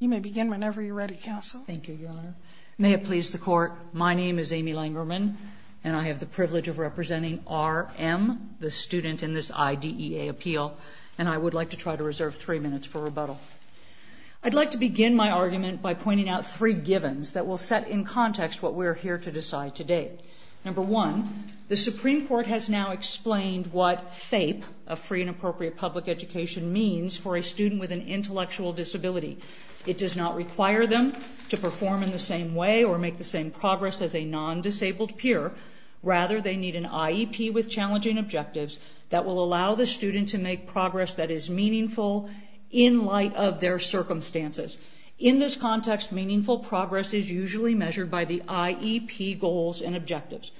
You may begin whenever you're ready, Counsel. Thank you, Your Honor. May it please the Court, my name is Amy Langerman, and I have the privilege of representing R. M., the student in this IDEA appeal, and I would like to try to reserve three minutes for rebuttal. I'd like to begin my argument by pointing out three givens that will set in context what we're here to decide today. Number one, the Supreme Court has now explained what FAPE, a free and appropriate public education, means for a student with an intellectual disability. It does not require them to perform in the same way or make the same progress as a non-disabled peer. Rather, they need an IEP with challenging objectives that will allow the student to make progress that is meaningful in light of their circumstances. In this context, meaningful progress is usually measured by the IEP goals and objectives.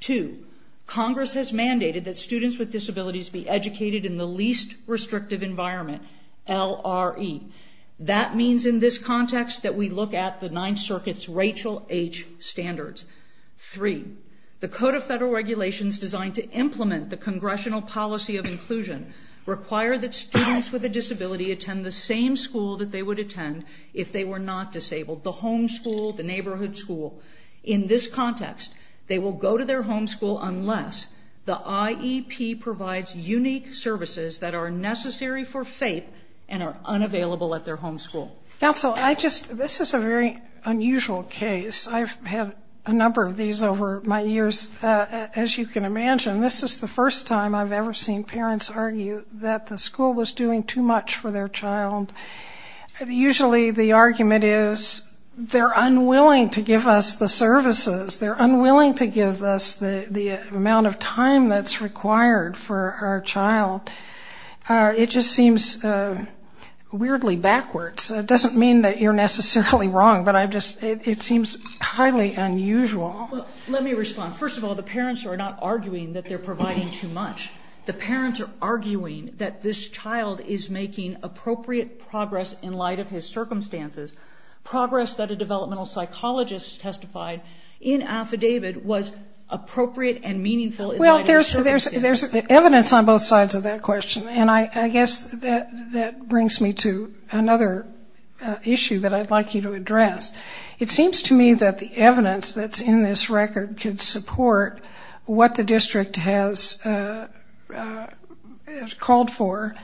Two, Congress has mandated that students with disabilities be educated in the least restrictive environment, LRE. That means in this context that we look at the Ninth Circuit's Rachel H. Standards. Three, the Code of Federal Regulations designed to implement the congressional policy of inclusion require that students with a disability attend the same school that they would attend if they were not disabled, the home school, the neighborhood school. In this context, they will go to their home school unless the IEP provides unique services that are necessary for FAPE and are unavailable at their home school. Counsel, I just, this is a very unusual case. I've had a number of these over my years. As you can imagine, this is the first time I've ever seen parents argue that the school was doing too much for their child. Usually the argument is they're unwilling to give us the services. They're unwilling to give us the amount of time that's required for our child. It just seems weirdly backwards. It doesn't mean that you're necessarily wrong, but I just, it seems highly unusual. Let me respond. First of all, the parents are not arguing that they're providing too much. The parents are arguing that this child is making appropriate progress in light of his circumstances, progress that a developmental psychologist testified in affidavit was appropriate and meaningful in light of his circumstances. There's evidence on both sides of that question, and I guess that brings me to another issue that I'd like you to address. It seems to me that the evidence that's in this record could support what the district has called for.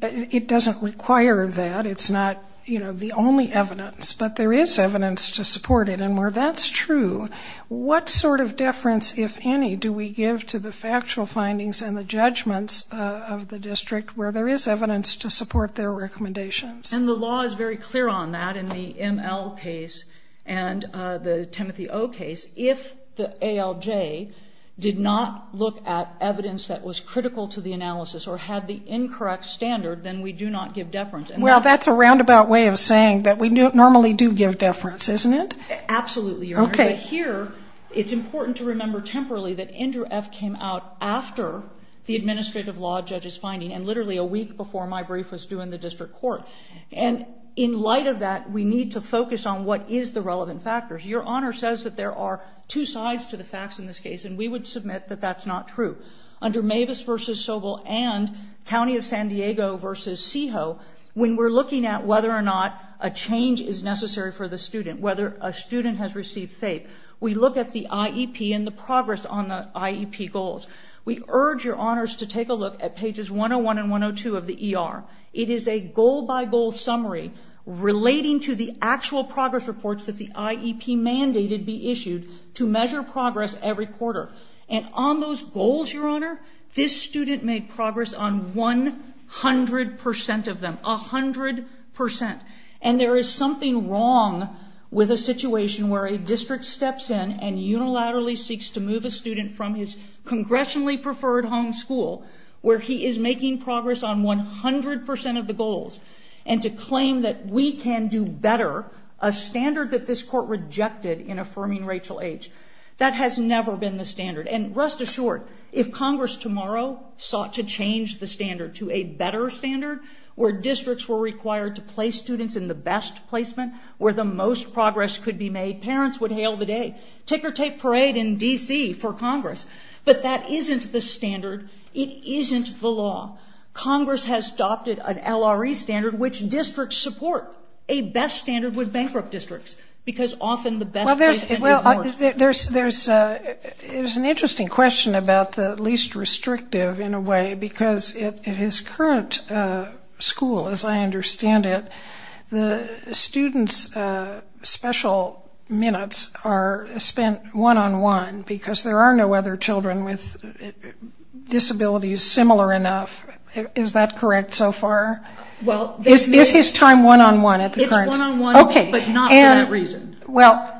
It doesn't require that. It's not the only evidence, but there is evidence to support it, and where that's true, what sort of deference, if any, do we give to the factual findings and the judgments of the district where there is evidence to support their recommendations? And the law is very clear on that in the ML case and the Timothy O case. If the ALJ did not look at evidence that was critical to the analysis or had the incorrect standard, then we do not give deference. Well, that's a roundabout way of saying that we normally do give deference, isn't it? Absolutely, Your Honor, but here it's important to remember temporarily that Andrew F. came out after the administrative law judge's finding and literally a week before my brief was due in the district court. And in light of that, we need to focus on what is the relevant factors. Your Honor says that there are two sides to the facts in this case, and we would submit that that's not true. Under Mavis v. Sobel and County of San Diego v. Seho, when we're looking at whether or not a change is necessary for the student, whether a student has received FAPE, we look at the IEP and the progress on the IEP goals. We urge Your Honors to take a look at pages 101 and 102 of the ER. It is a goal-by-goal summary relating to the actual progress reports that the IEP mandated be issued to measure progress every quarter. And on those goals, Your Honor, this student made progress on 100 percent of them, a hundred percent. And there is something wrong with a situation where a district steps in and unilaterally seeks to move a student from his congressionally preferred home school where he is making progress on 100 percent of the goals and to claim that we can do better, a standard that this Court rejected in affirming Rachel H. That has never been the standard. And rest assured, if Congress tomorrow sought to change the standard to a better standard where districts were required to place students in the best placement where the most progress could be made, parents would hail the day, ticker-tape parade in D.C. for Congress. But that isn't the standard. It isn't the law. Congress has adopted an LRE standard, which districts support, a best standard with bankrupt districts, because often the best placement is worse. Well, there's an interesting question about the least restrictive in a way, because at his current school, as I understand it, the students' special minutes are spent one-on-one because there are no other children with disabilities similar enough. Is that correct so far? Is his time one-on-one at the current school? It's one-on-one, but not for that reason. Well,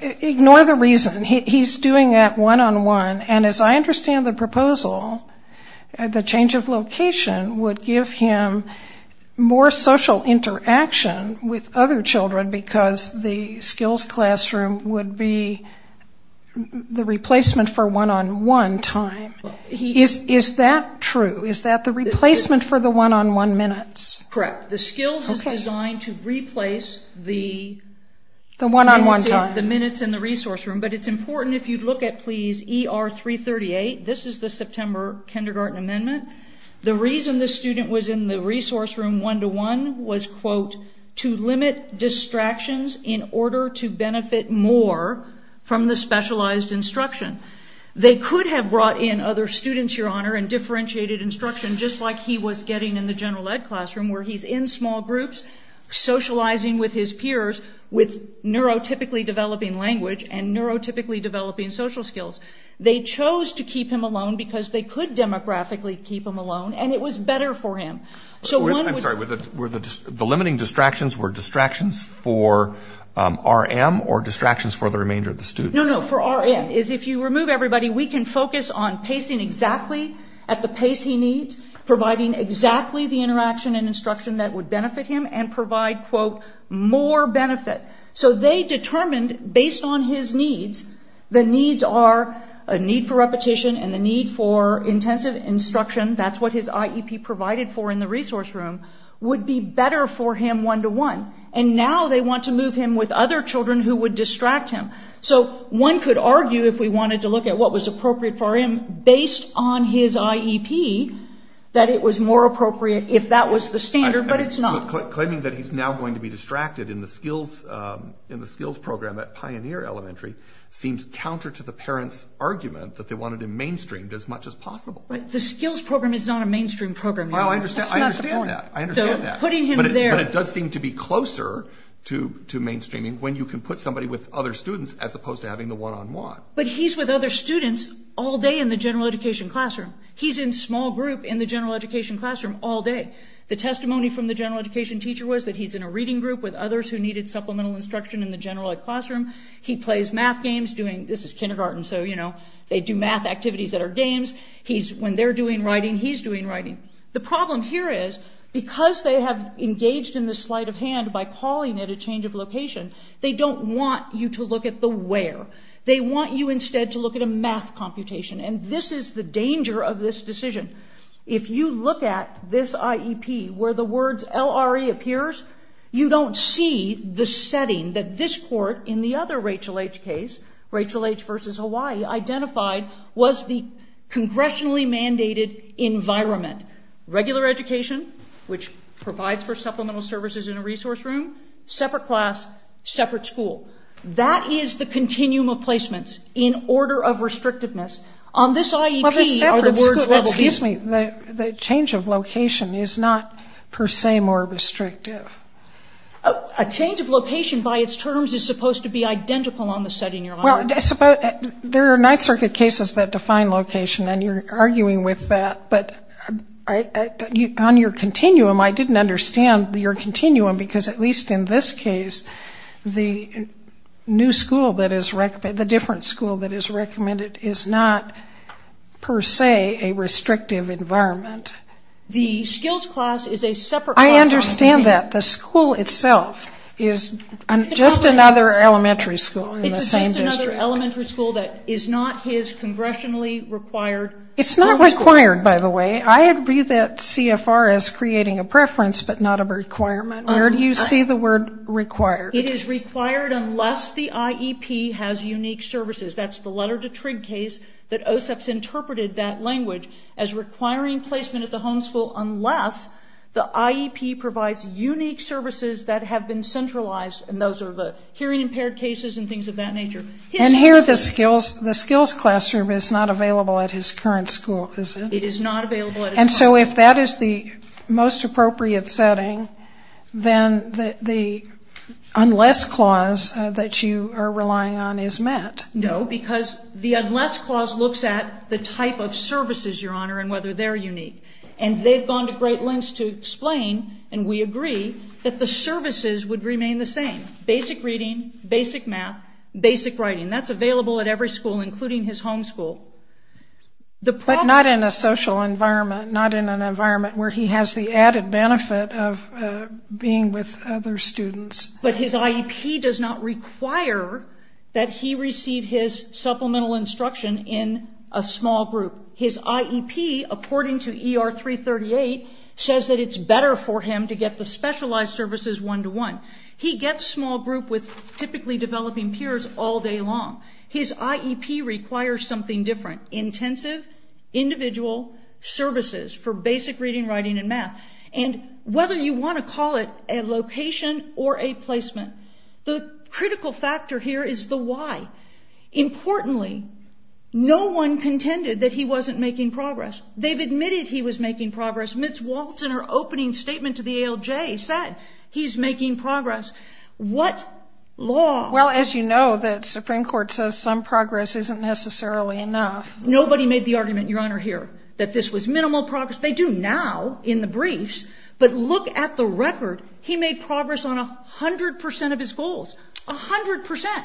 ignore the reason. He's doing that one-on-one, and as I understand the proposal, the change of location would give him more social interaction with other children because the skills classroom would be the replacement for one-on-one time. Is that true? Is that the replacement for the one-on-one minutes? Correct. The skills is designed to replace the one-on-one time, the minutes in the resource room. But it's important, if you'd look at, please, ER 338, this is the September Kindergarten Amendment. The reason the student was in the resource room one-to-one was, quote, to limit distractions in order to benefit more from the specialized instruction. They could have brought in other students, Your Honor, and differentiated instruction, just like he was getting in the general ed classroom, where he's in small groups socializing with his peers with neurotypically developing language and neurotypically developing social skills. They chose to keep him alone because they could demographically keep him alone, and it was better for him. I'm sorry, the limiting distractions were distractions for RM or distractions for the remainder of the students? No, no, for RM. If you remove everybody, we can focus on pacing exactly at the pace he needs, providing exactly the interaction and instruction that would benefit him and provide, quote, more benefit. So they determined, based on his needs, the needs are a need for repetition and the need for intensive instruction, that's what his IEP provided for in the resource room, would be better for him one-to-one. And now they want to move him with other children who would distract him. So one could argue, if we wanted to look at what was appropriate for him, based on his IEP, that it was more appropriate if that was the standard, but it's not. Claiming that he's now going to be distracted in the skills program at Pioneer Elementary seems counter to the parents' argument that they wanted him mainstreamed as much as possible. The skills program is not a mainstream program. That's not the point. I understand that. Putting him there. But it does seem to be closer to mainstreaming when you can put somebody with other students as opposed to having the one-on-one. But he's with other students all day in the general education classroom. He's in small group in the general education classroom all day. The testimony from the general education teacher was that he's in a reading group with others who needed supplemental instruction in the general ed classroom. He plays math games. This is kindergarten, so they do math activities that are games. When they're doing writing, he's doing writing. The problem here is, because they have engaged in this sleight of hand by calling it a change of location, they don't want you to look at the where. They want you instead to look at a math computation, and this is the danger of this decision. If you look at this IEP where the words LRE appears, you don't see the setting that this other Rachel H. case, Rachel H. versus Hawaii, identified was the congressionally mandated environment. Regular education, which provides for supplemental services in a resource room. Separate class, separate school. That is the continuum of placements in order of restrictiveness. On this IEP, are the words that will be- Excuse me. The change of location is not per se more restrictive. A change of location, by its terms, is supposed to be identical on the setting you're on. There are Ninth Circuit cases that define location, and you're arguing with that, but on your continuum, I didn't understand your continuum, because at least in this case, the new school that is recommended, the different school that is recommended, is not per se a restrictive environment. The skills class is a separate- I understand that. The school itself is just another elementary school in the same district. It's just another elementary school that is not his congressionally required homeschool. It's not required, by the way. I agree that CFR is creating a preference, but not a requirement. Where do you see the word required? It is required unless the IEP has unique services. That's the Letter to Trigg case that OSEP's interpreted that language as requiring placement at the homeschool unless the IEP provides unique services that have been centralized, and those are the hearing-impaired cases and things of that nature. And here, the skills classroom is not available at his current school, is it? It is not available at his current school. And so if that is the most appropriate setting, then the unless clause that you are relying on is met. No, because the unless clause looks at the type of services, Your Honor, and whether they're unique. And they've gone to great lengths to explain, and we agree, that the services would remain the same. Basic reading, basic math, basic writing. That's available at every school, including his homeschool. But not in a social environment, not in an environment where he has the added benefit of being with other students. But his IEP does not require that he receive his supplemental instruction in a small group. His IEP, according to ER 338, says that it's better for him to get the specialized services one-to-one. He gets small group with typically developing peers all day long. His IEP requires something different, intensive, individual services for basic reading, writing, and math. And whether you want to call it a location or a placement, the critical factor here is the why. Importantly, no one contended that he wasn't making progress. They've admitted he was making progress. Mitz Waltz, in her opening statement to the ALJ, said he's making progress. What law? Well, as you know, the Supreme Court says some progress isn't necessarily enough. Nobody made the argument, Your Honor, here that this was minimal progress. They do now in the briefs. But look at the record. He made progress on 100% of his goals, 100%.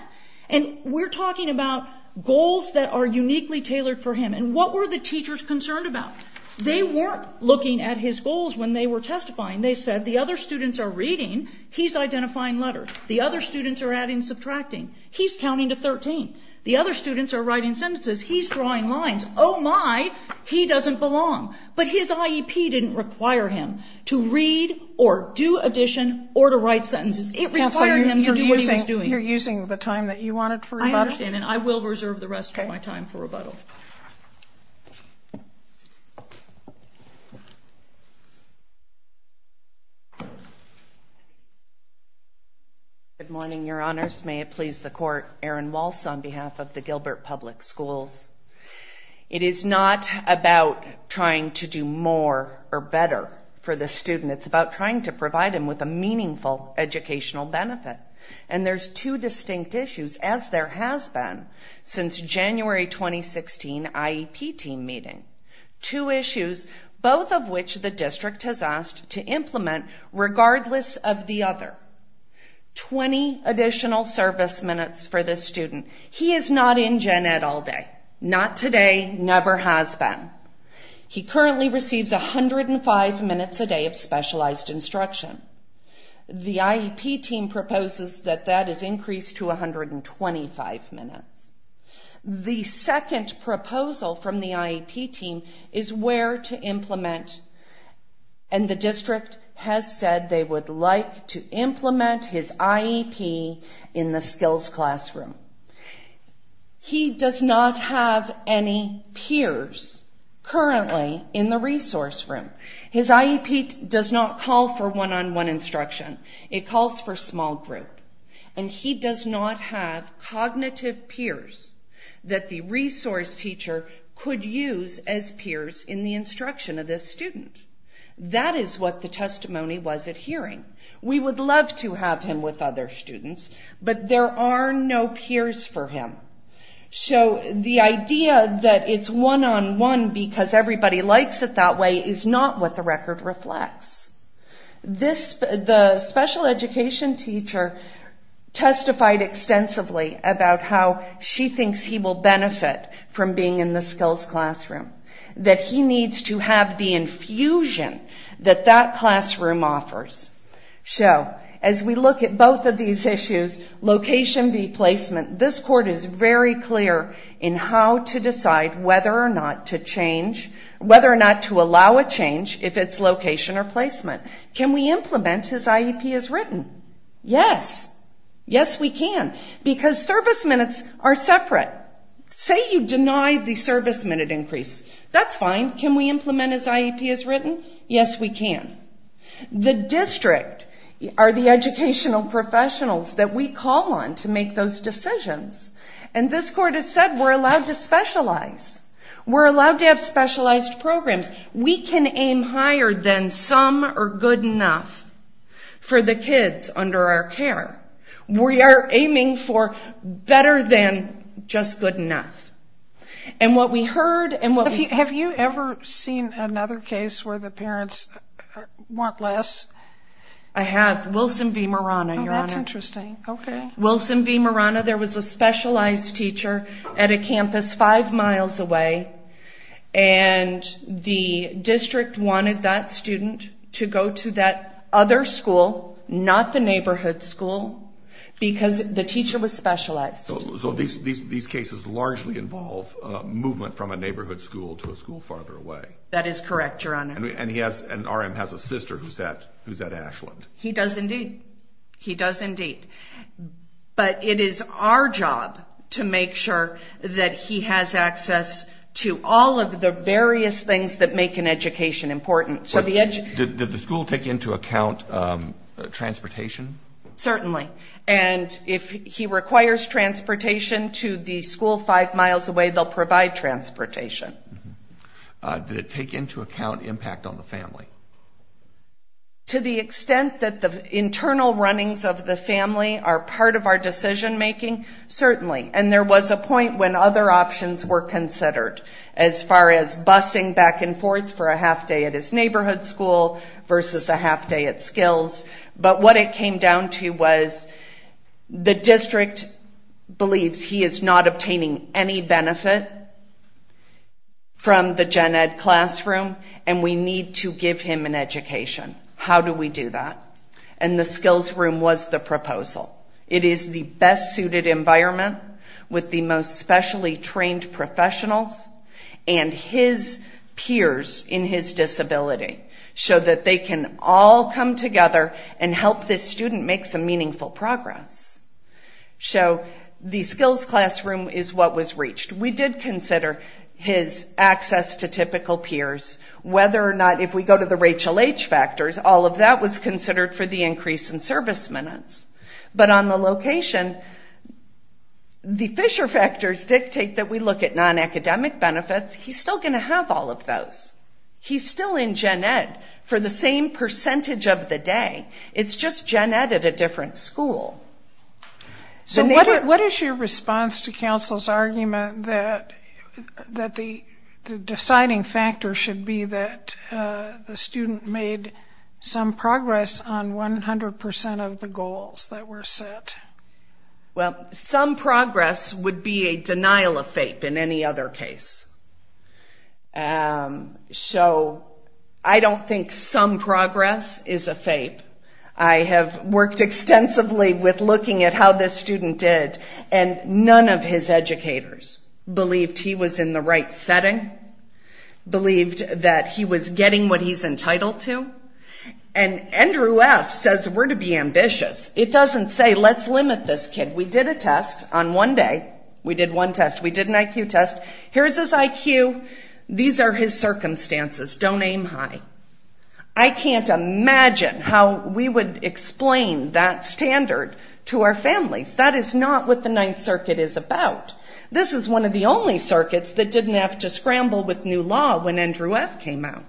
And we're talking about goals that are uniquely tailored for him. And what were the teachers concerned about? They weren't looking at his goals when they were testifying. They said the other students are reading. He's identifying letters. The other students are adding and subtracting. He's counting to 13. The other students are writing sentences. He's drawing lines. Oh my, he doesn't belong. But his IEP didn't require him to read or do addition or to write sentences. It required him to do what he was doing. So you're using the time that you wanted for rebuttal? I understand. And I will reserve the rest of my time for rebuttal. Good morning, Your Honors. May it please the Court. Erin Walsh on behalf of the Gilbert Public Schools. It is not about trying to do more or better for the student. It's about trying to provide him with a meaningful educational benefit. And there's two distinct issues, as there has been since January 2016 IEP team meeting. Two issues, both of which the district has asked to implement regardless of the other. Twenty additional service minutes for this student. He is not in Gen Ed all day. Not today. Never has been. He currently receives 105 minutes a day of specialized instruction. The IEP team proposes that that is increased to 125 minutes. The second proposal from the IEP team is where to implement, and the district has said they would like to implement his IEP in the skills classroom. He does not have any peers currently in the resource room. His IEP does not call for one-on-one instruction. It calls for small group, and he does not have cognitive peers that the resource teacher could use as peers in the instruction of this student. That is what the testimony was adhering. We would love to have him with other students, but there are no peers for him. So the idea that it is one-on-one because everybody likes it that way is not what the record reflects. The special education teacher testified extensively about how she thinks he will benefit from being in the skills classroom. That he needs to have the infusion that that classroom offers. So as we look at both of these issues, location, the placement, this court is very clear in how to decide whether or not to change, whether or not to allow a change if it is location or placement. Can we implement his IEP as written? Yes. Yes, we can. Because service minutes are separate. Say you deny the service minute increase. That's fine. Can we implement his IEP as written? Yes, we can. The district are the educational professionals that we call on to make those decisions. And this court has said we're allowed to specialize. We're allowed to have specialized programs. We can aim higher than some are good enough for the kids under our care. We are aiming for better than just good enough. And what we heard and what we... I have Wilson v. Marana, Your Honor. Oh, that's interesting. Wilson v. Marana, there was a specialized teacher at a campus five miles away. And the district wanted that student to go to that other school, not the neighborhood school, because the teacher was specialized. So these cases largely involve movement from a neighborhood school to a school farther away. That is correct, Your Honor. And he has... And RM has a sister who's at Ashland. He does indeed. He does indeed. But it is our job to make sure that he has access to all of the various things that make an education important. So the... Did the school take into account transportation? Certainly. And if he requires transportation to the school five miles away, they'll provide transportation. Did it take into account impact on the family? To the extent that the internal runnings of the family are part of our decision making, certainly. And there was a point when other options were considered, as far as busing back and forth for a half day at his neighborhood school versus a half day at Skills. But what it came down to was the district believes he is not obtaining any benefit from the Gen Ed classroom and we need to give him an education. How do we do that? And the Skills room was the proposal. It is the best suited environment with the most specially trained professionals and his peers in his disability so that they can all come together and help this student make some meaningful progress. So the Skills classroom is what was reached. We did consider his access to typical peers, whether or not, if we go to the Rachel H. factors, all of that was considered for the increase in service minutes. But on the location, the Fisher factors dictate that we look at non-academic benefits. He's still going to have all of those. He's still in Gen Ed for the same percentage of the day. It's just Gen Ed at a different school. What is your response to counsel's argument that the deciding factor should be that the student made some progress on 100% of the goals that were set? Well, some progress would be a denial of FAPE in any other case. So I don't think some progress is a FAPE. I have worked extensively with looking at how this student did and none of his educators believed he was in the right setting, believed that he was getting what he's entitled to. And Andrew F. says we're to be ambitious. It doesn't say let's limit this kid. We did a test on one day. We did one test. We did an IQ test. Here's his IQ. These are his circumstances. Don't aim high. I can't imagine how we would explain that standard to our families. That is not what the Ninth Circuit is about. This is one of the only circuits that didn't have to scramble with new law when Andrew F. came out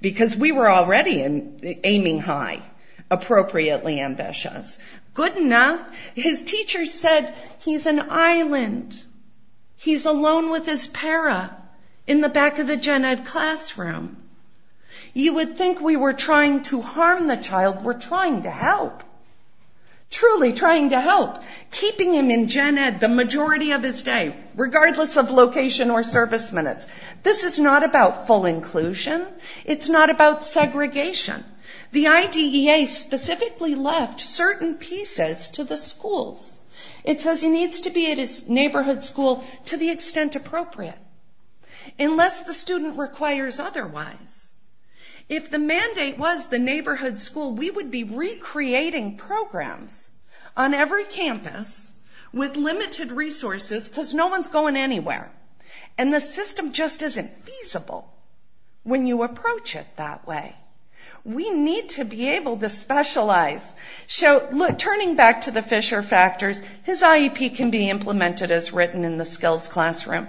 because we were already aiming high, appropriately ambitious. Good enough. His teacher said he's an island. He's alone with his para in the back of the Gen Ed classroom. You would think we were trying to harm the child. We're trying to help, truly trying to help, keeping him in Gen Ed the majority of his day regardless of location or service minutes. This is not about full inclusion. It's not about segregation. The IDEA specifically left certain pieces to the schools. It says he needs to be at his neighborhood school to the extent appropriate unless the student requires otherwise. If the mandate was the neighborhood school, we would be recreating programs on every campus with limited resources because no one's going anywhere. The system just isn't feasible when you approach it that way. We need to be able to specialize. Turning back to the Fisher factors, his IEP can be implemented as written in the skills classroom.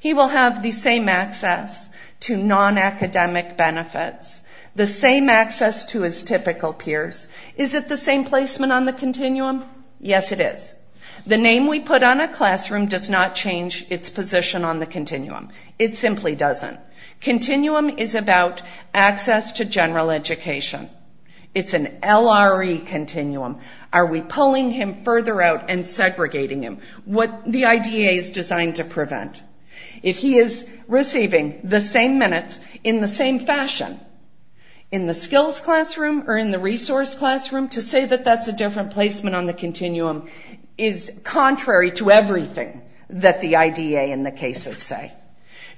He will have the same access to non-academic benefits, the same access to his typical peers. Is it the same placement on the continuum? Yes, it is. The name we put on a classroom does not change its position on the continuum. It simply doesn't. Continuum is about access to general education. It's an LRE continuum. Are we pulling him further out and segregating him? What the IDEA is designed to prevent. If he is receiving the same minutes in the same fashion in the skills classroom or in the resource classroom, to say that that's a different placement on the continuum is contrary to everything that the IDEA and the cases say.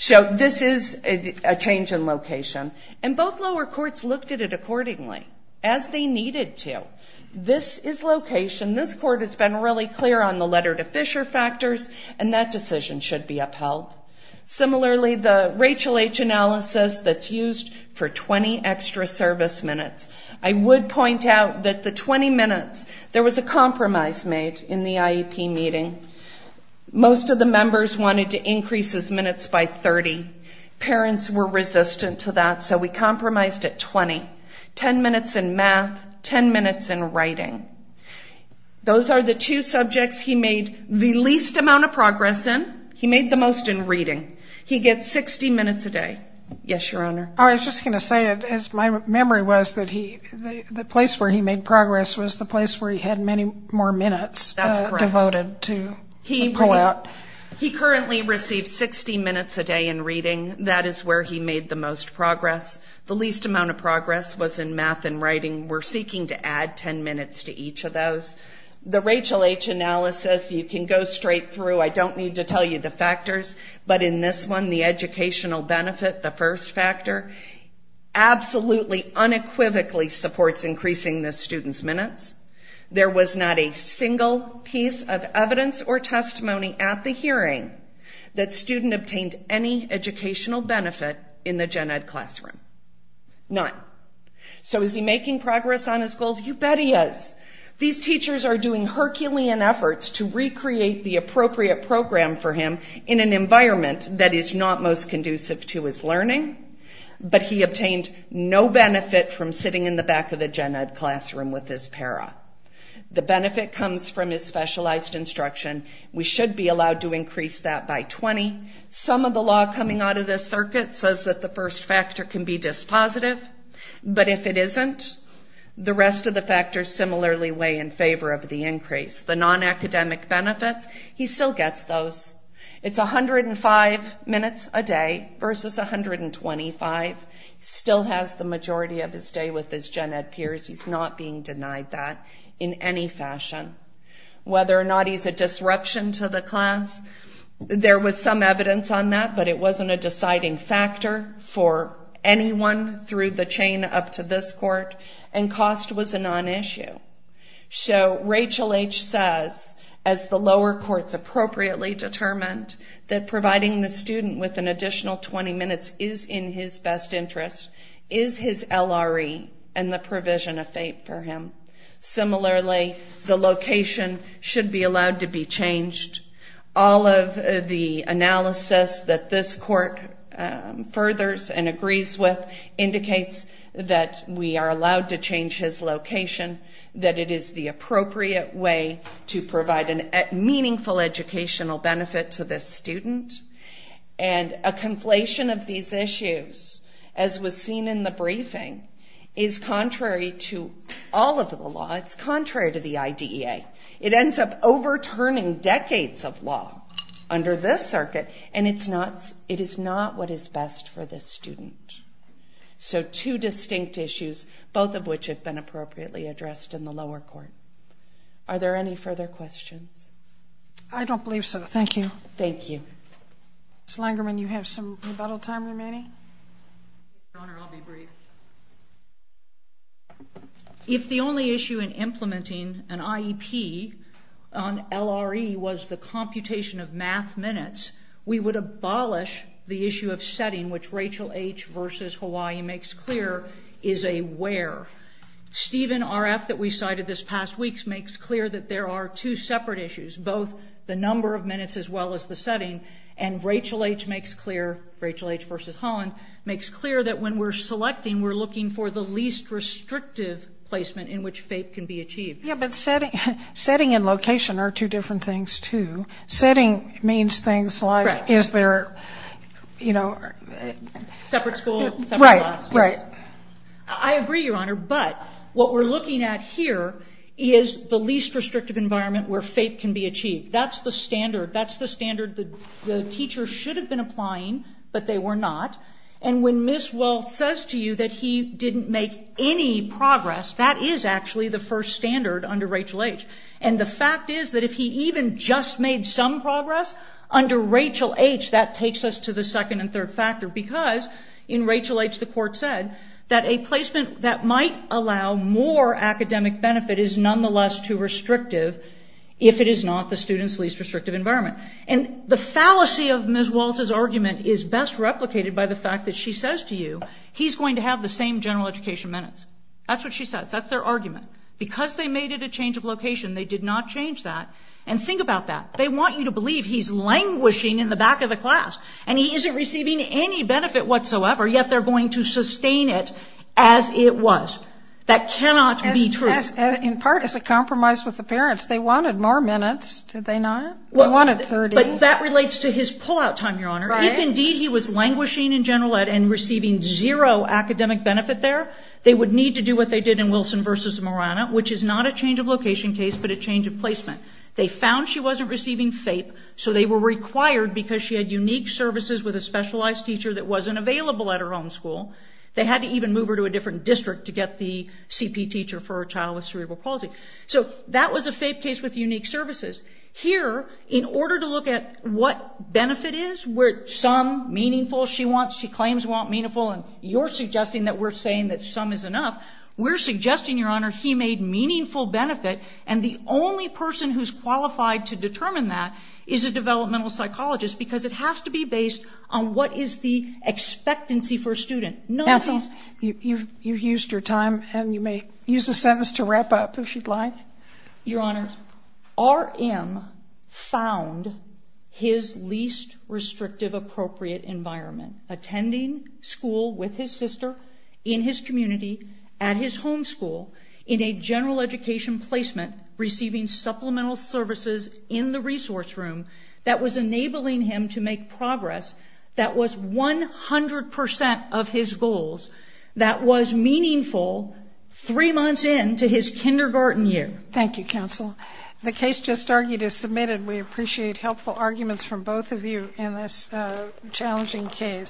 This is a change in location. Both lower courts looked at it accordingly, as they needed to. This is location. This court has been really clear on the letter to Fisher factors and that decision should be upheld. Similarly, the Rachel H. analysis that's used for 20 extra service minutes. I would point out that the 20 minutes, there was a compromise made in the IEP meeting. Most of the members wanted to increase his minutes by 30. Parents were resistant to that, so we compromised at 20. Ten minutes in math, ten minutes in writing. Those are the two subjects he made the least amount of progress in. He made the most in reading. He gets 60 minutes a day. Yes, your honor. I was just going to say, as my memory was, that the place where he made progress was the place where he had many more minutes devoted to pull out. He currently receives 60 minutes a day in reading. That is where he made the most progress. The least amount of progress was in math and writing. We're seeking to add ten minutes to each of those. The Rachel H. analysis, you can go straight through. I don't need to tell you the factors, but in this one, the educational benefit, the first factor, absolutely, unequivocally supports increasing the student's minutes. There was not a single piece of evidence or testimony at the hearing that student obtained any educational benefit in the gen ed classroom, none. So is he making progress on his goals? You bet he is. These teachers are doing Herculean efforts to recreate the appropriate program for him in an environment that is not most conducive to his learning, but he obtained no benefit from sitting in the back of the gen ed classroom with his para. The benefit comes from his specialized instruction. We should be allowed to increase that by 20. Some of the law coming out of this circuit says that the first factor can be dispositive, but if it isn't, the rest of the factors similarly weigh in favor of the increase. The non-academic benefits, he still gets those. It's 105 minutes a day versus 125, still has the majority of his day with his gen ed peers. He's not being denied that in any fashion. Whether or not he's a disruption to the class, there was some evidence on that, but it wasn't a deciding factor for anyone through the chain up to this court, and cost was a non-issue. So Rachel H. says, as the lower courts appropriately determined, that providing the student with an additional 20 minutes is in his best interest, is his LRE and the provision of FAPE for him. Similarly, the location should be allowed to be changed. All of the analysis that this court furthers and agrees with indicates that we are allowed to change his location, that it is the appropriate way to provide a meaningful educational benefit to this student, and a conflation of these issues, as was seen in the briefing, is contrary to all of the law. It's contrary to the IDEA. It ends up overturning decades of law under this circuit, and it is not what is best for this student. So two distinct issues, both of which have been appropriately addressed in the lower court. Are there any further questions? I don't believe so. Thank you. Thank you. Ms. Langerman, you have some rebuttal time remaining? Your Honor, I'll be brief. If the only issue in implementing an IEP on LRE was the computation of math minutes, we would abolish the issue of setting, which Rachel H. v. Hawaii makes clear is a where. Stephen R.F. that we cited this past week makes clear that there are two separate issues, both the number of minutes as well as the setting, and Rachel H. makes clear, Rachel H. v. Holland, makes clear that when we're selecting, we're looking for the least restrictive placement in which FAPE can be achieved. Yeah, but setting and location are two different things, too. Setting means things like, is there, you know... Separate school, separate classes. Right, right. I agree, Your Honor, but what we're looking at here is the least restrictive environment where FAPE can be achieved. That's the standard. That's the standard the teacher should have been applying, but they were not, and when Ms. Welch says to you that he didn't make any progress, that is actually the first standard under Rachel H. And the fact is that if he even just made some progress, under Rachel H. that takes us to the second and third factor, because in Rachel H. the court said that a placement that might allow more academic benefit is nonetheless too restrictive if it is not the student's least restrictive environment. And the fallacy of Ms. Welch's argument is best replicated by the fact that she says to you, he's going to have the same general education minutes. That's what she says. That's their argument. Because they made it a change of location, they did not change that. And think about that. They want you to believe he's languishing in the back of the class, and he isn't receiving any benefit whatsoever, yet they're going to sustain it as it was. That cannot be true. In part, it's a compromise with the parents. They wanted more minutes, did they not? They wanted 30. But that relates to his pull-out time, Your Honor. If indeed he was languishing in general ed and receiving zero academic benefit there, they would need to do what they did in Wilson v. Morana, which is not a change of location case but a change of placement. They found she wasn't receiving FAPE, so they were required because she had unique services with a specialized teacher that wasn't available at her own school. They had to even move her to a different district to get the CP teacher for her child with cerebral palsy. So that was a FAPE case with unique services. Here, in order to look at what benefit is, where some meaningful she wants, she claims want meaningful, and you're suggesting that we're saying that some is enough. We're suggesting, Your Honor, he made meaningful benefit, and the only person who's qualified to determine that is a developmental psychologist, because it has to be based on what is the expectancy for a student. None of these... That's all. You've used your time, and you may use a sentence to wrap up if you'd like. Your Honor, R.M. found his least restrictive appropriate environment, attending school with his sister, in his community, at his home school, in a general education placement, receiving supplemental services in the resource room that was enabling him to make progress that was 100% of his goals, that was meaningful three months into his kindergarten year. Thank you, counsel. The case just argued is submitted. We appreciate helpful arguments from both of you in this challenging case.